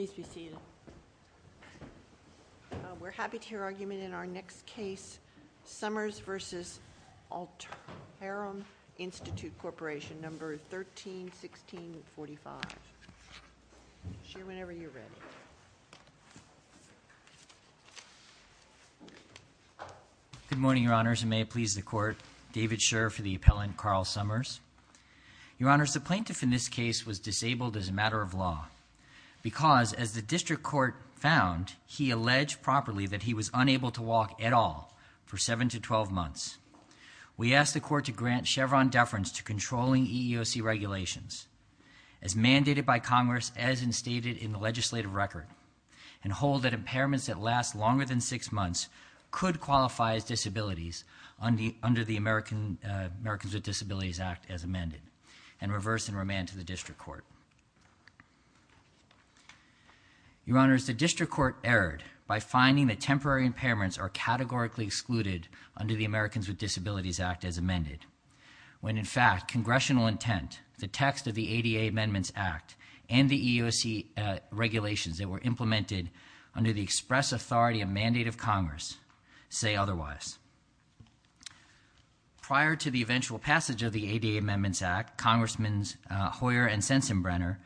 131645 Good morning, Your Honors, and may it please the Court, David Scher for the appellant, Carl Summers. Your Honors, the plaintiff in this case was disabled as a matter of law, because as the District Court found, he alleged properly that he was unable to walk at all for seven to twelve months. We ask the Court to grant Chevron deference to controlling EEOC regulations as mandated by Congress as instated in the legislative record, and hold that impairments that last longer than six months could qualify as disabilities under the Americans with Disabilities Act as amended, and reverse and remand to the District Court. Your Honors, the District Court erred by finding that temporary impairments are categorically excluded under the Americans with Disabilities Act as amended, when in fact, congressional intent, the text of the ADA Amendments Act, and the EEOC regulations that were implemented under the express authority and mandate of Congress say otherwise. Your Honors, prior to the eventual passage of the ADA Amendments Act, Congressmen Hoyer and Sensenbrenner,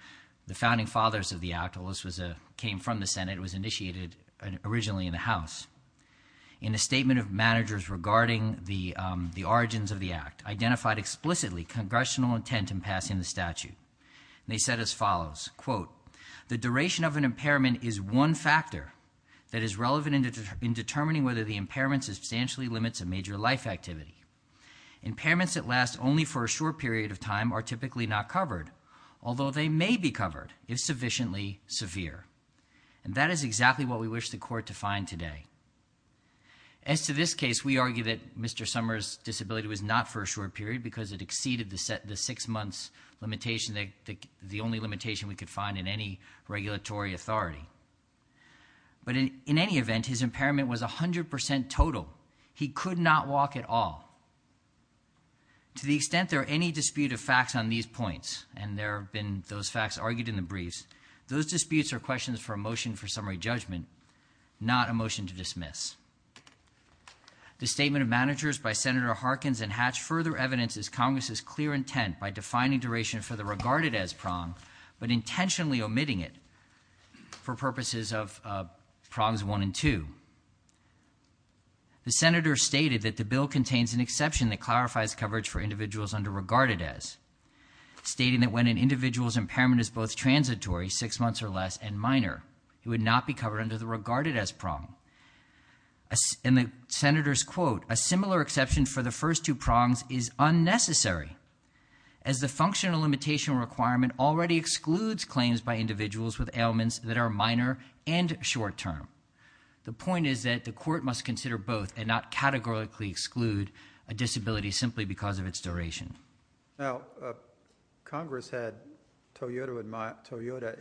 the founding fathers of the Act, although this came from the Senate, was initiated originally in the House, in a statement of managers regarding the origins of the Act, identified explicitly congressional intent in passing the statute. They said as follows, quote, the duration of an impairment is one factor that is relevant in determining whether the impairment substantially limits a major life activity. Impairments that last only for a short period of time are typically not covered, although they may be covered if sufficiently severe. And that is exactly what we wish the Court to find today. As to this case, we argue that Mr. Summers' disability was not for a short period because it exceeded the six months limitation, the only limitation we could find in any regulatory authority. But in any event, his impairment was 100% total. He could not walk at all. To the extent there are any dispute of facts on these points, and there have been those facts argued in the briefs, those disputes are questions for a motion for summary judgment, not a motion to dismiss. The statement of managers by Senator Harkins and Hatch further evidences Congress's clear intent by defining duration for the regarded as prong, but intentionally omitting it for purposes of prongs one and two. The Senator stated that the bill contains an exception that clarifies coverage for individuals under regarded as, stating that when an individual's impairment is both transitory, six months or less, and minor, it would not be covered under the regarded as prong. And the Senator's quote, a similar exception for the first two prongs is individuals with ailments that are minor and short-term. The point is that the court must consider both and not categorically exclude a disability simply because of its duration. Now, Congress had Toyota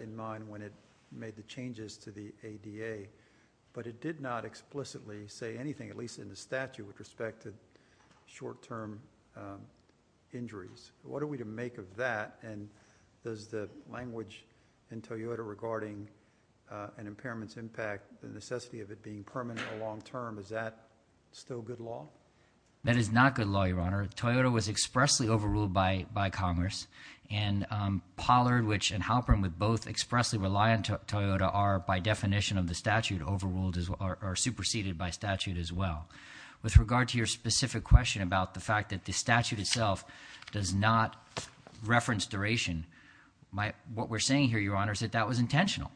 in mind when it made the changes to the ADA, but it did not explicitly say anything, at least in the statute, with respect to short-term injuries. What are we to in Toyota regarding an impairment's impact, the necessity of it being permanent or long-term? Is that still good law? That is not good law, Your Honor. Toyota was expressly overruled by Congress and Pollard, which, and Halpern, would both expressly rely on Toyota are, by definition of the statute, overruled or superseded by statute as well. With regard to your specific question about the fact that the statute itself does not reference duration, what we're saying here, Your Honor, is that that was intentional,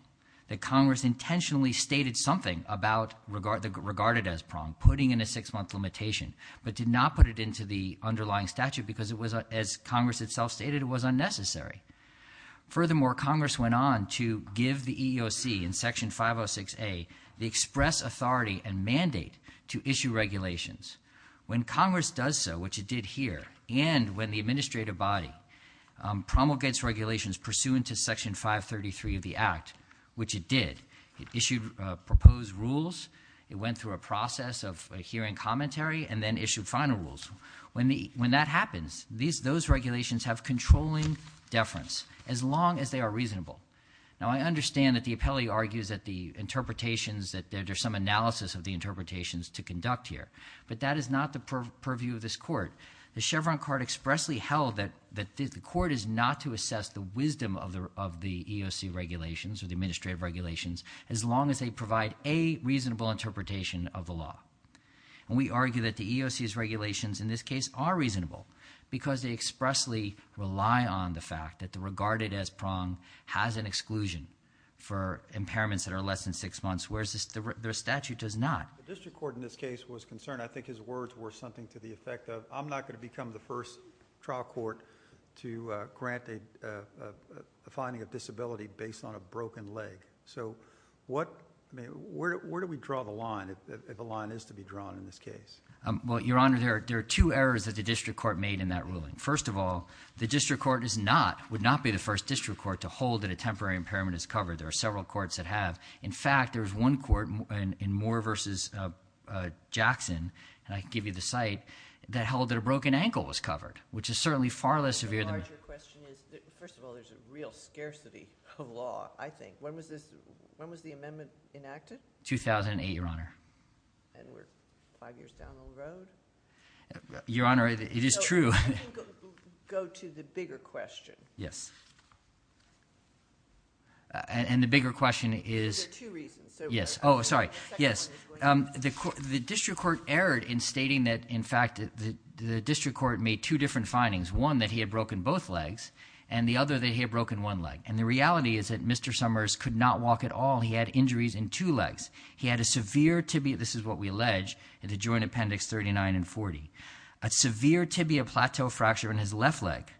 that Congress intentionally stated something about the regarded as prong, putting in a six-month limitation, but did not put it into the underlying statute because it was, as Congress itself stated, it was unnecessary. Furthermore, Congress went on to give the EEOC, in Section 506A, the express authority and mandate to issue regulations. When Congress does so, which it did here, and when the administrative body promulgates regulations pursuant to Section 533 of the Act, which it did, it issued proposed rules, it went through a process of hearing commentary, and then issued final rules. When that happens, those regulations have controlling deference, as long as they are reasonable. Now, I understand that the appellee argues that the interpretations, that there's some analysis of the interpretations to conduct here, but that is not the purview of this court. The Chevron card expressly held that the court is not to assess the wisdom of the EEOC regulations, or the administrative regulations, as long as they provide a reasonable interpretation of the law. We argue that the EEOC's regulations, in this case, are reasonable because they expressly rely on the fact that the regarded as prong has an exclusion for impairments that are less than six months, whereas their statute does not. The district court in this case was concerned, I think his words were something to the effect of, I'm not going to become the first trial court to grant a finding of disability based on a broken leg. So, what, I mean, where do we draw the line, if the line is to be drawn in this case? Well, Your Honor, there are two errors that the district court made in that ruling. First of all, the district court is not, would not be the first district court to hold that temporary impairment is covered. There are several courts that have. In fact, there's one court in Moore versus Jackson, and I can give you the site, that held that a broken ankle was covered, which is certainly far less severe than- The larger question is, first of all, there's a real scarcity of law, I think. When was this, when was the amendment enacted? 2008, Your Honor. And we're five years down the road? Your Honor, it is true. Go to the bigger question. Yes. And the bigger question is- There's two reasons. Yes. Oh, sorry. Yes. The district court erred in stating that, in fact, the district court made two different findings. One, that he had broken both legs, and the other, that he had broken one leg. And the reality is that Mr. Summers could not walk at all. He had injuries in two legs. He had a severe tibia, this is what we allege, in the joint appendix 39 and 40. A severe tibia plateau fracture in his left leg,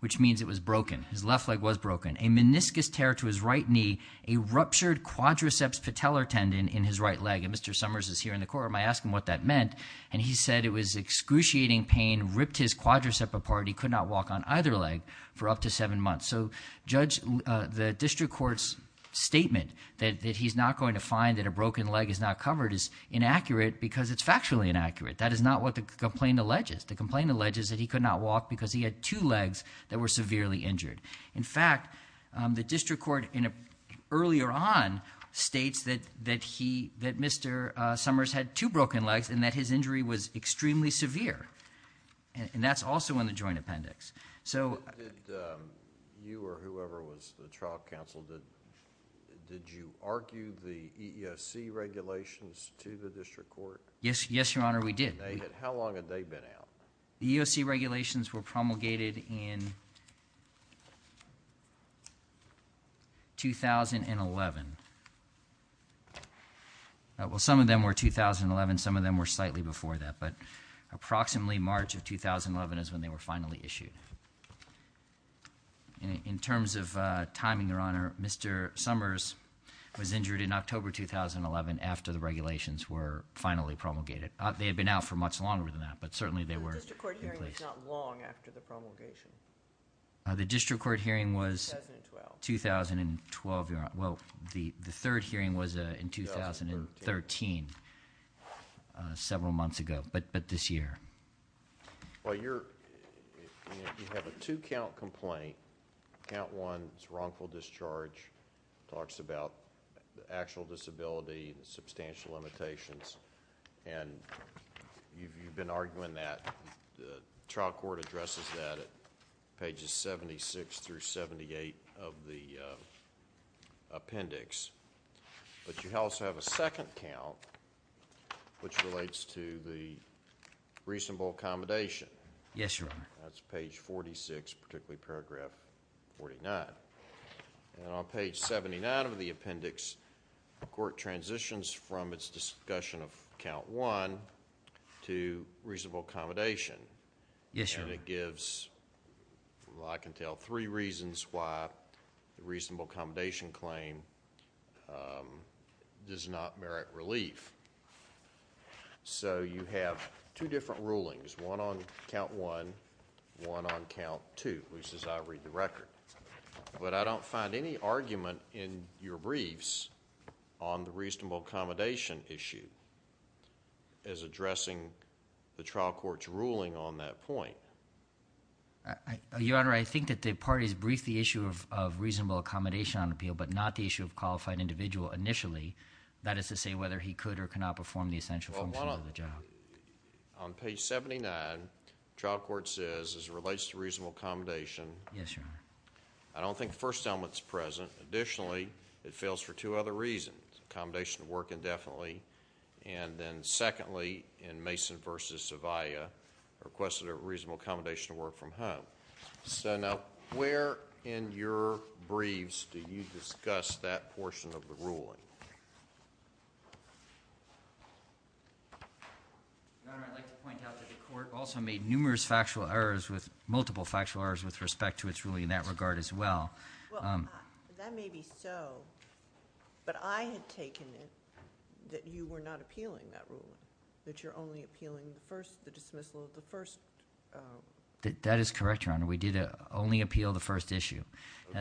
which means it was broken. His left leg was broken. A meniscus tear to his right knee, a ruptured quadriceps patellar tendon in his right leg. And Mr. Summers is here in the court, am I asking what that meant? And he said it was excruciating pain, ripped his quadricep apart, he could not walk on either leg for up to seven months. So, Judge, the district court's statement that he's not going to find that a broken leg is not covered is inaccurate because it's factually inaccurate. That is not what the complaint alleges. The complaint alleges that he could not walk because he had two legs that were severely injured. In fact, the district court earlier on states that Mr. Summers had two broken legs and that his injury was extremely severe. And that's also in the joint appendix. So... Did you or whoever was the trial counsel, did you argue the EEOC regulations to the district court? Yes, Your Honor, we did. How long had they been out? The EEOC regulations were promulgated in 2011. Well, some of them were 2011, some of them were slightly before that, but approximately March of 2011 is when they were finally issued. In terms of timing, Your Honor, Mr. Summers was injured in October 2011 after the regulations were finally promulgated. They had been out for much longer than that, but certainly they were... The district court hearing was not long after the promulgation. The district court hearing was... 2012. 2012, Your Honor. Well, the third hearing was in 2013, several months ago, but this year. Well, you have a two-count complaint. Count one is wrongful discharge. It talks about the actual disability, the substantial limitations, and you've been arguing that. The trial court addresses that at pages 76 through 78 of the appendix, but you also have a second count which relates to the reasonable accommodation. Yes, Your Honor. That's page 46, particularly paragraph 49. On page 79 of the appendix, the court transitions from its discussion of count one to reasonable accommodation. Yes, Your Honor. It gives, I can tell, three reasons why the reasonable accommodation claim does not merit relief. You have two different rulings, one on count one, one on count two, which is I read the record, but I don't find any argument in your briefs on the reasonable accommodation issue as addressing the trial court's ruling on that point. Your Honor, I think that the parties briefed the issue of reasonable accommodation on appeal, but not the issue of qualified individual initially. That is to say whether he could or cannot perform the essential function of the job. Well, on page 79, the trial court says, as it relates to reasonable accommodation, I don't think the first element's present. Additionally, it fails for two other reasons, accommodation to work indefinitely, and then secondly, in Mason v. Zavia, requested a reasonable accommodation to work from home. So now, where in your briefs do you discuss that portion of the ruling? Your Honor, I'd like to point out that the court also made numerous factual errors with, multiple factual errors with respect to its ruling in that regard as well. Well, that may be so, but I had taken it that you were not appealing that ruling, that you're only appealing the first, the dismissal of the first. That is correct, Your Honor. We did only appeal the first issue.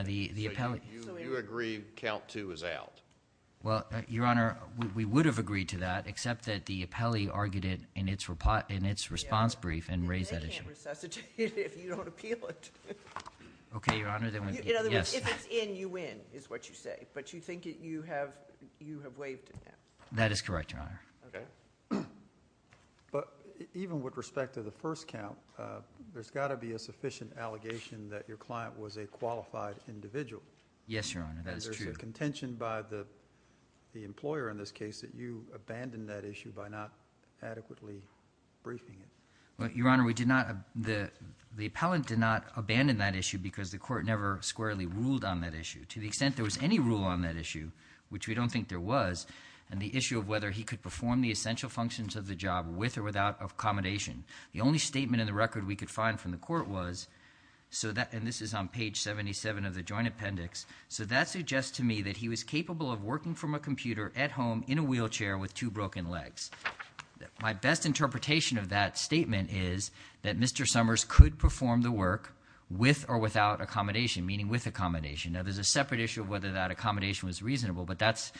You agree count two is out? Well, Your Honor, we would have agreed to that, except that the appellee argued it in its response brief and raised that issue. They can't resuscitate it if you don't appeal it. Okay, Your Honor. In other words, if it's in, you win, is what you say, but you think you have waived it now. That is correct, Your Honor. Okay, but even with respect to the first count, there's got to be a sufficient allegation that your client was a qualified individual. Yes, Your Honor, that's true. There's a contention by the employer in this case that you abandoned that issue by not adequately briefing it. Well, Your Honor, we did not, the appellant did not abandon that issue because the court never squarely ruled on that issue. To the extent there was any rule on that issue, which we don't think there was, and the issue of whether he could perform the essential functions of the job with or without accommodation. The only statement in the record we could find from the court was, so that, and this is on page 77 of the joint appendix, so that suggests to me that he was capable of working from a computer at home in a wheelchair with two broken legs. My best interpretation of that statement is that Mr. Summers could perform the work with or without accommodation, meaning with accommodation. Now there's a separate issue of whether that accommodation was reasonable, but that's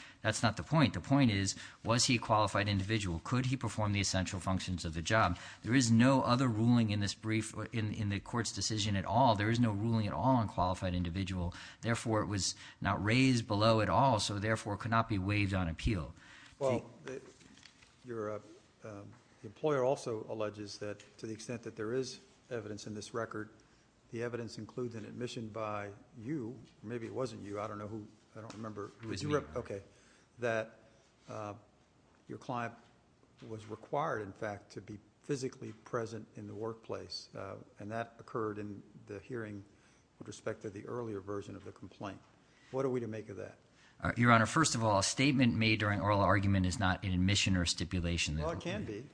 not the point. The point is, was he a qualified individual? Could he perform the essential functions of the job? There is no other ruling in this brief, in the court's decision at all. There is no ruling at all on qualified individual. Therefore, it was not raised below at all, so therefore it could not be waived on appeal. Well, the employer also alleges that to the extent that there is evidence in this record, the evidence includes an admission by you, maybe it wasn't you, I don't know who, I don't remember, okay, that your client was required, in fact, to be physically present in the workplace, and that occurred in the hearing with respect to the earlier version of the complaint. What are we to make of that? Your Honor, first of all, a statement made during oral argument is not an admission or stipulation. Well, it can be.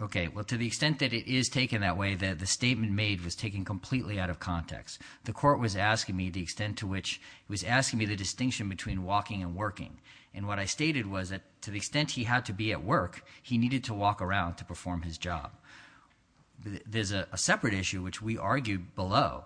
Okay, well, to the extent that it is taken that way, that the statement made was taken completely out of context. The court was asking me the extent to which, it was asking me the distinction between walking and working, and what I stated was that to the extent he had to be at work, he needed to walk around to perform his job. There's a separate issue, which we argued below,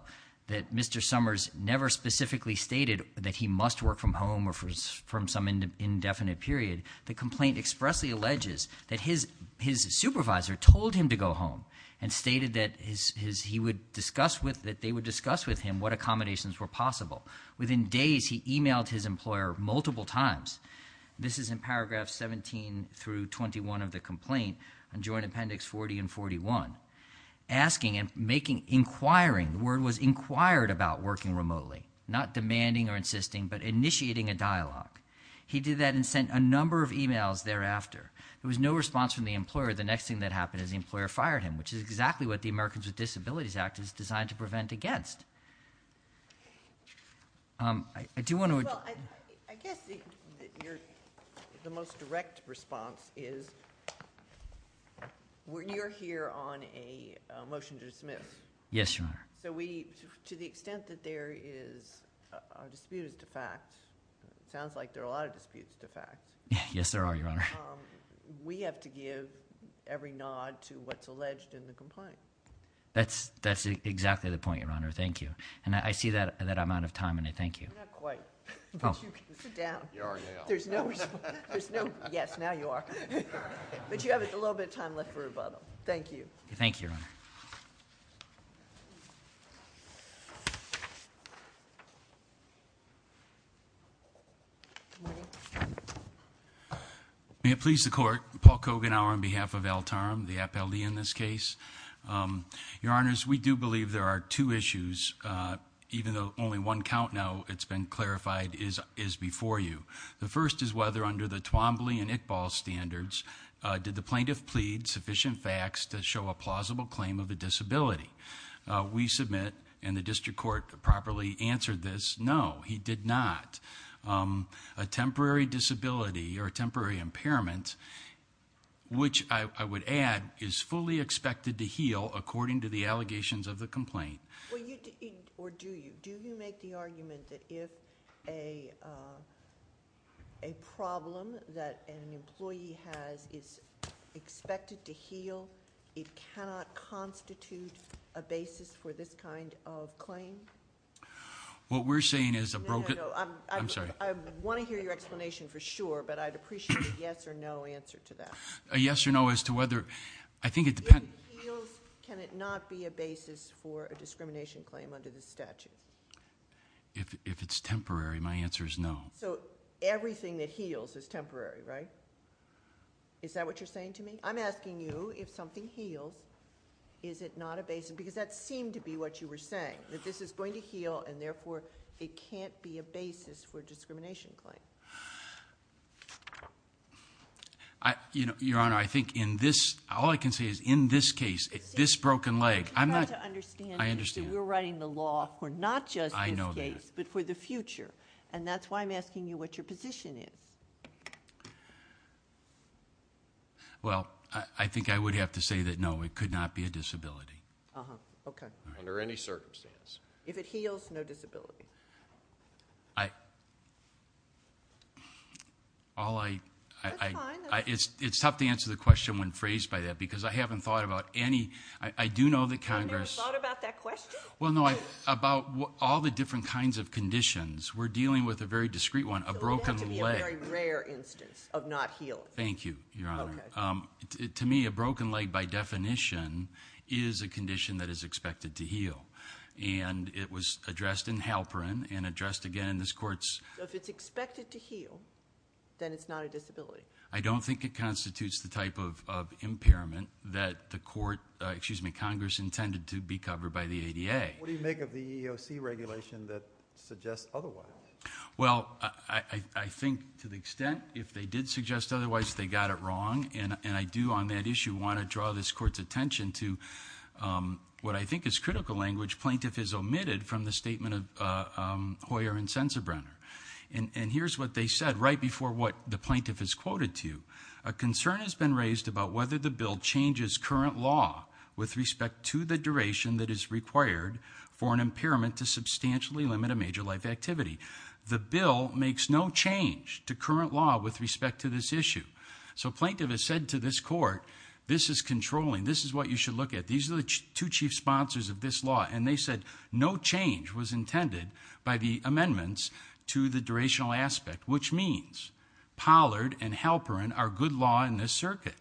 that Mr. Summers never specifically stated that he must work from home or from some indefinite period. The complaint expressly alleges that his supervisor told him to go home and stated that they would discuss with him what accommodations were possible. Within days, he emailed his employer multiple times, this is in paragraph 17 through 21 of the complaint, joint appendix 40 and 41, asking and inquiring, the word was inquired about working remotely, not demanding or insisting, but initiating a dialogue. He did that and sent a number of emails thereafter. There was no response from the employer. The next thing that happened is the employer fired him, which is exactly what the Americans with Disabilities Act is designed to prevent against. I do want to— Well, I guess the most direct response is, you're here on a motion to dismiss. Yes, Your Honor. To the extent that there is a dispute of the fact, it sounds like there are a lot of disputes of the fact. Yes, there are, Your Honor. We have to give every nod to what's alleged in the complaint. That's exactly the point, Your Honor. Thank you. I see that amount of time, and I thank you. Not quite, but you can sit down. Yes, now you are. But you have a little bit of time left for rebuttal. Thank you. Thank you, Your Honor. Good morning. May it please the Court, Paul Koganauer on behalf of Altarum, the appellee in this case. Your Honors, we do believe there are two issues, even though only one count now, it's been clarified, is before you. The first is whether, under the Twombly and Iqbal standards, did the plaintiff plead sufficient facts to show a plausible claim of a disability? We submit, and the district court properly answered this, no, he did not. A temporary disability or a temporary impairment, which I would add, is fully expected to heal according to the allegations of the complaint. Or do you? Do you make the argument that if a problem that an employee has is expected to heal, it cannot constitute a basis for this kind of claim? What we're saying is a broken- No, no, no. I'm sorry. I want to hear your explanation for sure, but I'd appreciate a yes or no answer to that. A yes or no as to whether, I think it depends- If it heals, can it not be a basis for a discrimination claim under this statute? If it's temporary, my answer is no. So everything that heals is temporary, right? Is that what you're saying to me? I'm asking you, if something heals, is it not a basis? Because that seemed to be what you were saying, that this is going to heal, and therefore it can't be a basis for a discrimination claim. Your Honor, I think in this, all I can say is in this case, this broken leg, I'm not- I'm trying to understand you. I understand. You're writing the law for not just this case- I know that. But for the future, and that's why I'm asking you what your position is. Well, I think I would have to say that no, it could not be a disability. Uh-huh. Okay. Under any circumstance. If it heals, no disability. All I- That's fine. It's tough to answer the question when phrased by that, because I haven't thought about any- I do know that Congress- You've never thought about that question? Well, no. About all the different kinds of conditions, we're dealing with a very discreet one, a broken leg. To me, a very rare instance of not healing. Thank you, Your Honor. Okay. To me, a broken leg, by definition, is a condition that is expected to heal. And it was addressed in Halperin, and addressed again in this court's- So if it's expected to heal, then it's not a disability? I don't think it constitutes the type of impairment that the court- excuse me, Congress intended to be covered by the ADA. What do you make of the EEOC regulation that suggests otherwise? Well, I think, to the extent, if they did suggest otherwise, they got it wrong. And I do, on that issue, want to draw this court's attention to what I think is critical language plaintiff has omitted from the statement of Hoyer and Sensenbrenner. And here's what they said right before what the plaintiff has quoted to you. A concern has been raised about whether the bill changes current law with respect to the duration that is required for an impairment to substantially limit a major life activity. The bill makes no change to current law with respect to this issue. So plaintiff has said to this court, this is controlling. This is what you should look at. These are the two chief sponsors of this law. And they said no change was intended by the amendments to the durational aspect, which means Pollard and Halperin are good law in this circuit.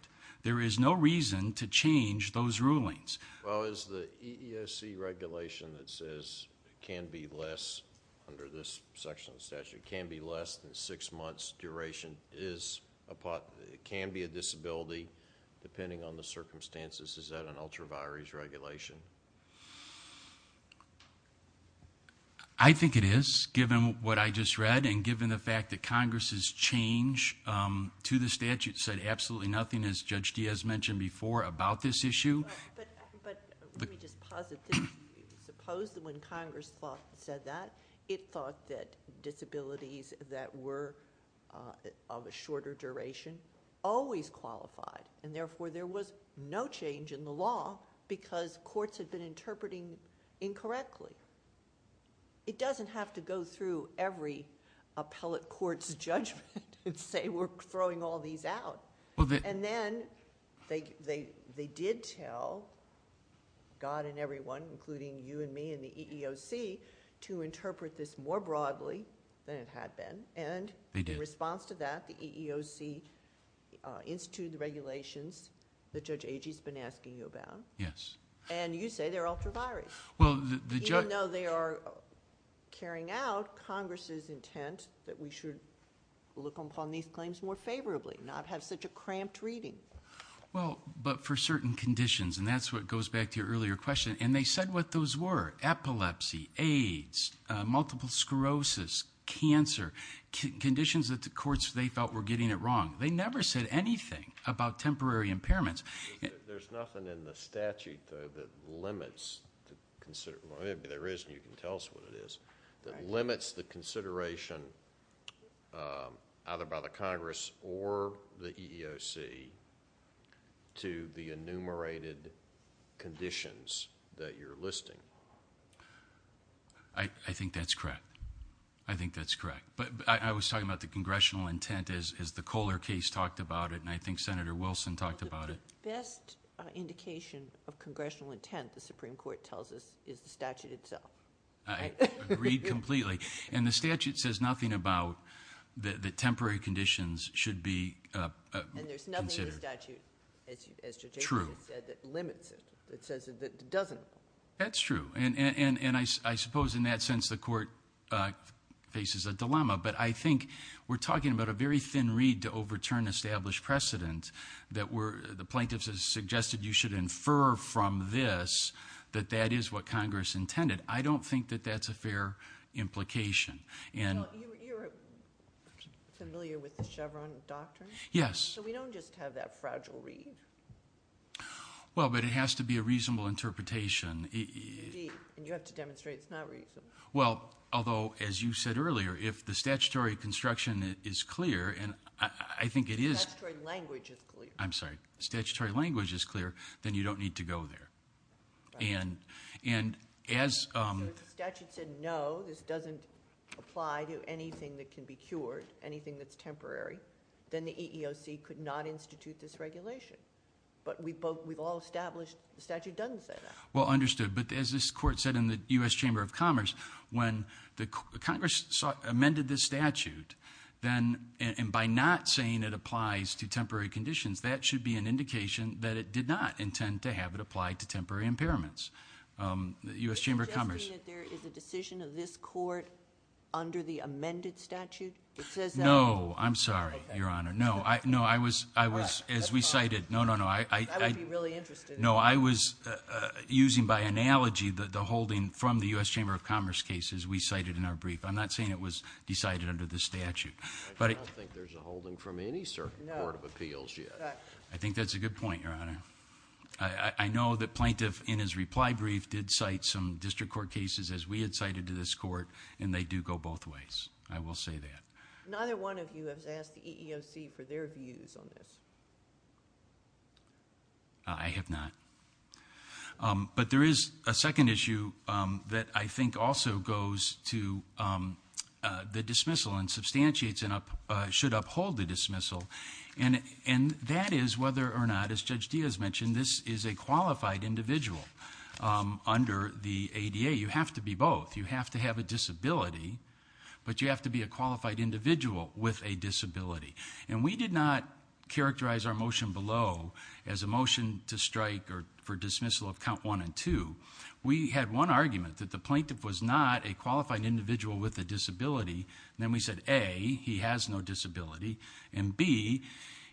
There is no reason to change those rulings. Well, is the EESC regulation that says it can be less, under this section of the statute, can be less than six months' duration, it can be a disability, depending on the circumstances, is that an ultra-virus regulation? I think it is, given what I just read and given the fact that Congress's change to the statute said absolutely nothing, as Judge Diaz mentioned before, about this issue. But let me just posit this. Suppose that when Congress said that, it thought that disabilities that were of a shorter duration always qualified, and therefore there was no change in the law because courts had been interpreting incorrectly. It doesn't have to go through every appellate court's judgment and say, we're throwing all these out. And then they did tell God and everyone, including you and me and the EEOC, to interpret this more broadly than it had been. And in response to that, the EEOC instituted the regulations that Judge Agee's been asking you about. Yes. And you say they're ultra-virus. Even though they are carrying out Congress's intent that we should look upon these claims more favorably, not have such a cramped reading. Well, but for certain conditions. And that's what goes back to your earlier question. And they said what those were. Epilepsy, AIDS, multiple sclerosis, cancer. Conditions that the courts, they felt, were getting it wrong. They never said anything about temporary impairments. There's nothing in the statute, though, that limits the consideration. Well, maybe there is, and you can tell us what it is. That limits the consideration, either by the Congress or the EEOC, to the enumerated conditions that you're listing. I think that's correct. I think that's correct. But I was talking about the congressional intent, as the Kohler case talked about it. And I think Senator Wilson talked about it. The best indication of congressional intent, the Supreme Court tells us, is the statute itself. I agree completely. And the statute says nothing about the temporary conditions should be considered. And there's nothing in the statute, as Judge Aiken has said, that limits it. It says that it doesn't. That's true. And I suppose, in that sense, the court faces a dilemma. But I think we're talking about a very thin reed to overturn established precedent. The plaintiffs have suggested you should infer from this that that is what Congress intended. I don't think that that's a fair implication. You're familiar with the Chevron doctrine? Yes. So we don't just have that fragile reed? Well, but it has to be a reasonable interpretation. And you have to demonstrate it's not reasonable. Well, although, as you said earlier, if the statutory construction is clear, and I think it is- Statutory language is clear. I'm sorry. Statutory language is clear. Then you don't need to go there. And as- So if the statute said no, this doesn't apply to anything that can be cured, anything that's temporary, then the EEOC could not institute this regulation. But we've all established the statute doesn't say that. Well, understood. But as this court said in the U.S. Chamber of Commerce, when Congress amended this statute, and by not saying it applies to temporary conditions, that should be an indication that it did not intend to have it applied to temporary impairments. The U.S. Chamber of Commerce- Suggesting that there is a decision of this court under the amended statute? It says that- No, I'm sorry, Your Honor. No, I was- As we cited- No, no, no, I- I would be really interested- No, I was using by analogy the holding from the U.S. Chamber of Commerce case as we cited in our brief. I'm not saying it was decided under the statute. I don't think there's a holding from any certain court of appeals yet. I think that's a good point, Your Honor. I know the plaintiff in his reply brief did cite some district court cases as we had cited to this court, and they do go both ways. I will say that. Neither one of you has asked the EEOC for their views on this. I have not. But there is a second issue that I think also goes to the dismissal and substantiates and should uphold the dismissal. And that is whether or not, as Judge Diaz mentioned, this is a qualified individual under the ADA. You have to be both. You have to have a disability, but you have to be a qualified individual with a disability. And we did not characterize our motion below as a motion to strike or for dismissal of count one and two. We had one argument that the plaintiff was not a qualified individual with a disability. Then we said, A, he has no disability. And B,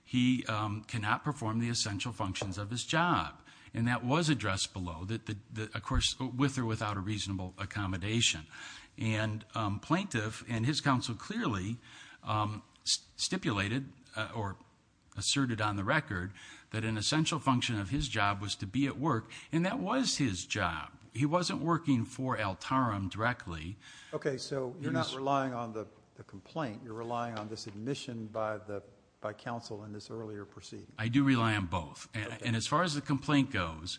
he cannot perform the essential functions of his job. And that was addressed below. Of course, with or without a reasonable accommodation. And plaintiff and his counsel clearly stipulated or asserted on the record that an essential function of his job was to be at work. And that was his job. He wasn't working for Altarum directly. OK, so you're not relying on the complaint. You're relying on this admission by counsel in this earlier proceeding. I do rely on both. And as far as the complaint goes,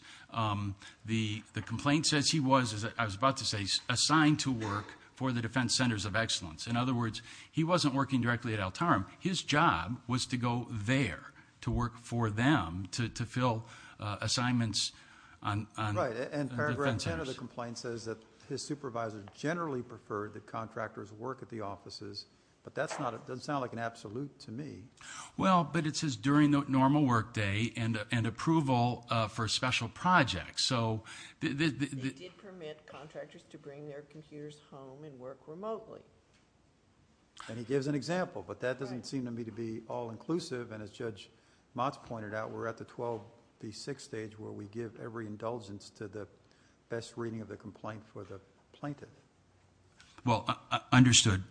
the complaint says he was, as I was about to say, assigned to work for the Defense Centers of Excellence. In other words, he wasn't working directly at Altarum. His job was to go there to work for them, to fill assignments on the defense centers. And paragraph 10 of the complaint says that his supervisor generally preferred that contractors work at the offices. But that doesn't sound like an absolute to me. Well, but it says during the normal work day and approval for special projects. So they did permit contractors to bring their computers home and work remotely. And he gives an example. But that doesn't seem to me to be all inclusive. And as Judge Motz pointed out, we're at the 12B6 stage where we give every indulgence to the best reading of the complaint for the plaintiff. Well, understood.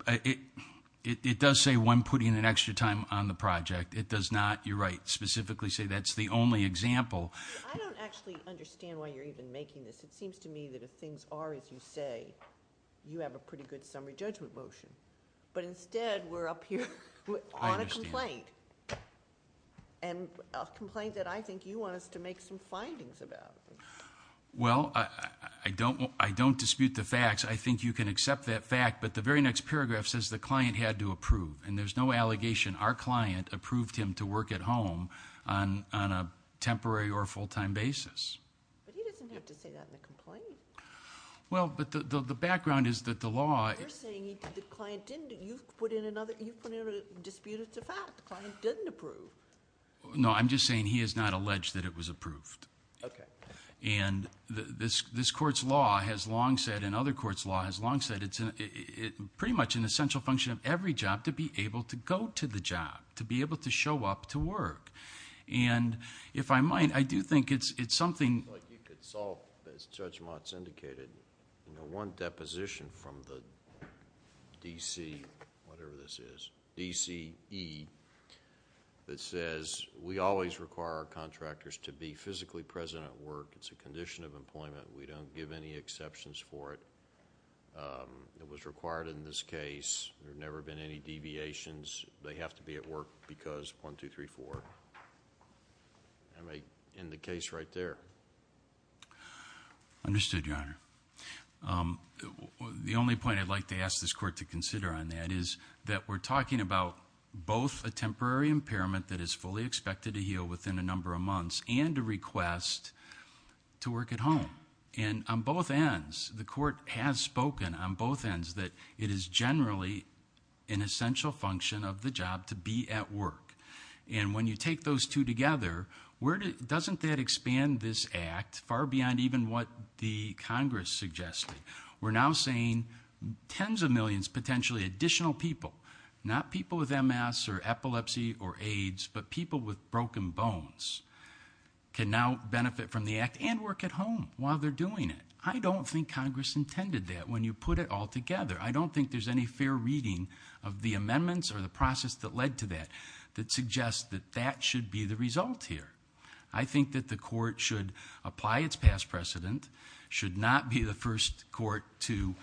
It does say when putting an extra time on the project. It does not, you're right, specifically say that's the only example. I don't actually understand why you're even making this. It seems to me that if things are as you say, you have a pretty good summary judgment motion. But instead, we're up here on a complaint. And a complaint that I think you want us to make some findings about. Well, I don't dispute the facts. I think you can accept that fact. But the very next paragraph says the client had to approve. And there's no allegation our client approved him to work at home on a temporary or full-time basis. But he doesn't have to say that in a complaint. Well, but the background is that the law- You're saying the client didn't. You've put in a dispute, it's a fact. The client didn't approve. No, I'm just saying he has not alleged that it was approved. Okay. And this court's law has long said, and other court's law has long said, it's pretty much an essential function of every job to be able to go to the job, to be able to show up to work. And if I might, I do think it's something- But you could solve, as Judge Motz indicated, one deposition from the D.C., whatever this is, D.C.E. that says we always require our contractors to be physically present at work. It's a condition of employment. We don't give any exceptions for it. It was required in this case. There have never been any deviations. They have to be at work because 1, 2, 3, 4. And I may end the case right there. Understood, Your Honor. The only point I'd like to ask this court to consider on that is that we're talking about both a temporary impairment that is fully expected to heal within a number of months and a request to work at home. And on both ends, the court has spoken on both ends that it is generally an essential function of the job to be at work. And when you take those two together, doesn't that expand this act far beyond even what the Congress suggested? We're now saying tens of millions, potentially additional people, not people with MS or epilepsy or AIDS, but people with broken bones can now benefit from the act and work at home while they're doing it. I don't think Congress intended that when you put it all together. I don't think there's any fair reading of the amendments or the process that led to that, that suggests that that should be the result here. I think that the court should apply its past precedent, should not be the first court to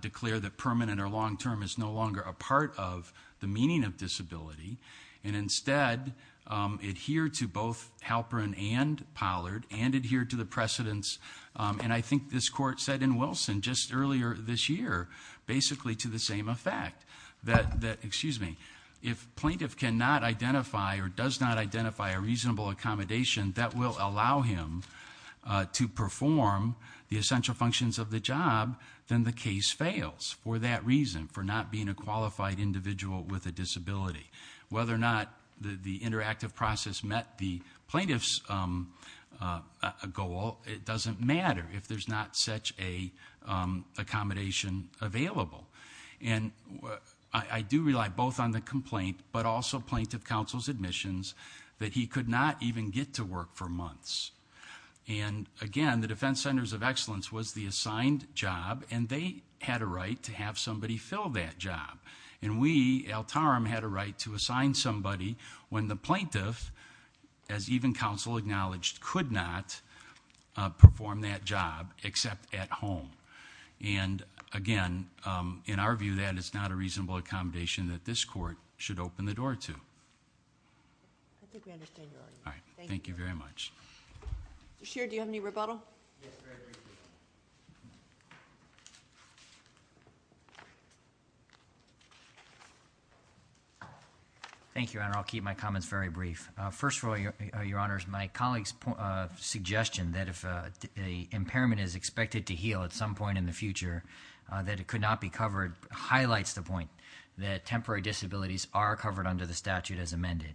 declare that permanent or long-term is no longer a part of the meaning of disability, and instead adhere to both Halperin and Pollard and adhere to the precedents. And I think this court said in Wilson just earlier this year, basically to the same effect, that, excuse me, if plaintiff cannot identify or does not identify a reasonable accommodation, that will allow him to perform the essential functions of the job, then the case fails for that reason, for not being a qualified individual with a disability. Whether or not the interactive process met the plaintiff's goal, it doesn't matter if there's not such a accommodation available. And I do rely both on the complaint, but also plaintiff counsel's admissions, that he could not even get to work for months. And again, the Defense Centers of Excellence was the assigned job, and they had a right to have somebody fill that job. And we, El Tarum, had a right to assign somebody when the plaintiff, as even counsel acknowledged, could not perform that job except at home. And again, in our view, that is not a reasonable accommodation that this court should open the door to. I think we understand your argument. All right. Thank you very much. Chair, do you have any rebuttal? Yes, very briefly. Thank you, Your Honor. I'll keep my comments very brief. First of all, Your Honors, my colleague's suggestion that if a impairment is expected to heal at some point in the future, that it could not be covered, highlights the point that temporary disabilities are covered under the statute as amended.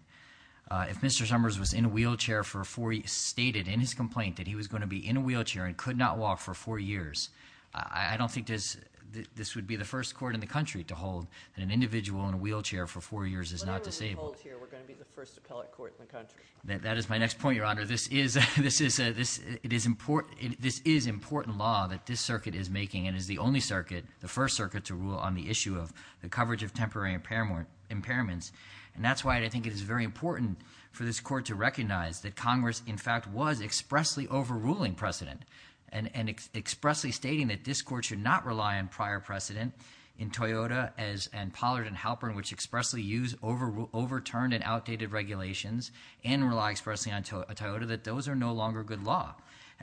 If Mr. Summers was in a wheelchair for four years, stated in his complaint that he was going to be in a wheelchair and could not walk for four years, I don't think this would be the first court in the country to hold that an individual in a wheelchair for four years is not disabled. We're going to be the first appellate court in the country. That is my next point, Your Honor. This is important law that this circuit is making and is the only circuit, the first circuit to rule on the issue of the coverage of temporary impairments. That's why I think it is very important for this court to recognize that Congress, in fact, was expressly overruling precedent and expressly stating that this court should not rely on prior precedent in Toyota and Pollard and Halpern, which expressly use overturned and outdated regulations and rely expressly on Toyota, that those are no longer good law.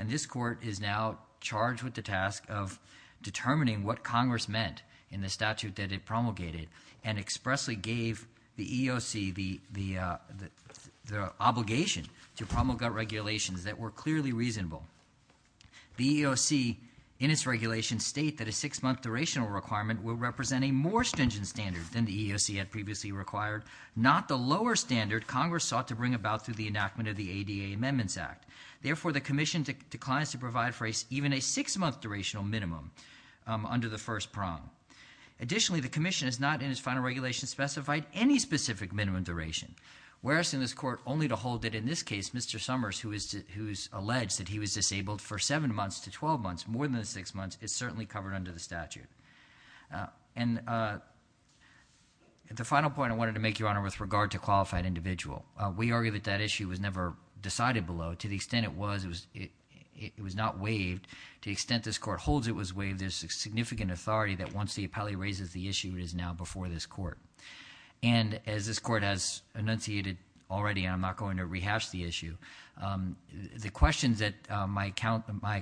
This court is now charged with the task of determining what Congress meant in the statute that it promulgated and expressly gave the EEOC the obligation to promulgate regulations that were clearly reasonable. The EEOC in its regulation state that a six-month durational requirement will represent a more stringent standard than the EEOC had previously required, not the lower standard Congress sought to bring about through the enactment of the ADA Amendments Act. Therefore, the commission declines to provide for even a six-month durational minimum under the first prong. Additionally, the commission has not, in its final regulation, specified any specific minimum duration. We're asking this court only to hold that, in this case, Mr. Summers, who's alleged that he was disabled for seven months to 12 months, more than six months, is certainly covered under the statute. And the final point I wanted to make, Your Honor, with regard to qualified individual. We argue that that issue was never decided below. To the extent it was, it was not waived. To the extent this court holds it was waived, there's significant authority that once the appellee raises the issue, it is now before this court. And as this court has enunciated already, and I'm not going to rehash the issue, the questions that my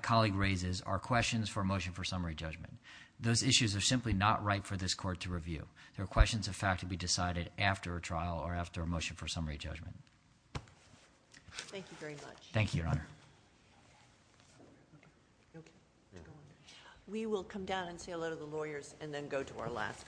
colleague raises are questions for a motion for summary judgment. Those issues are simply not right for this court to review. They're questions of fact to be decided after a trial Thank you very much. Thank you, Your Honor. We will come down and say hello to the lawyers and then go to our last case.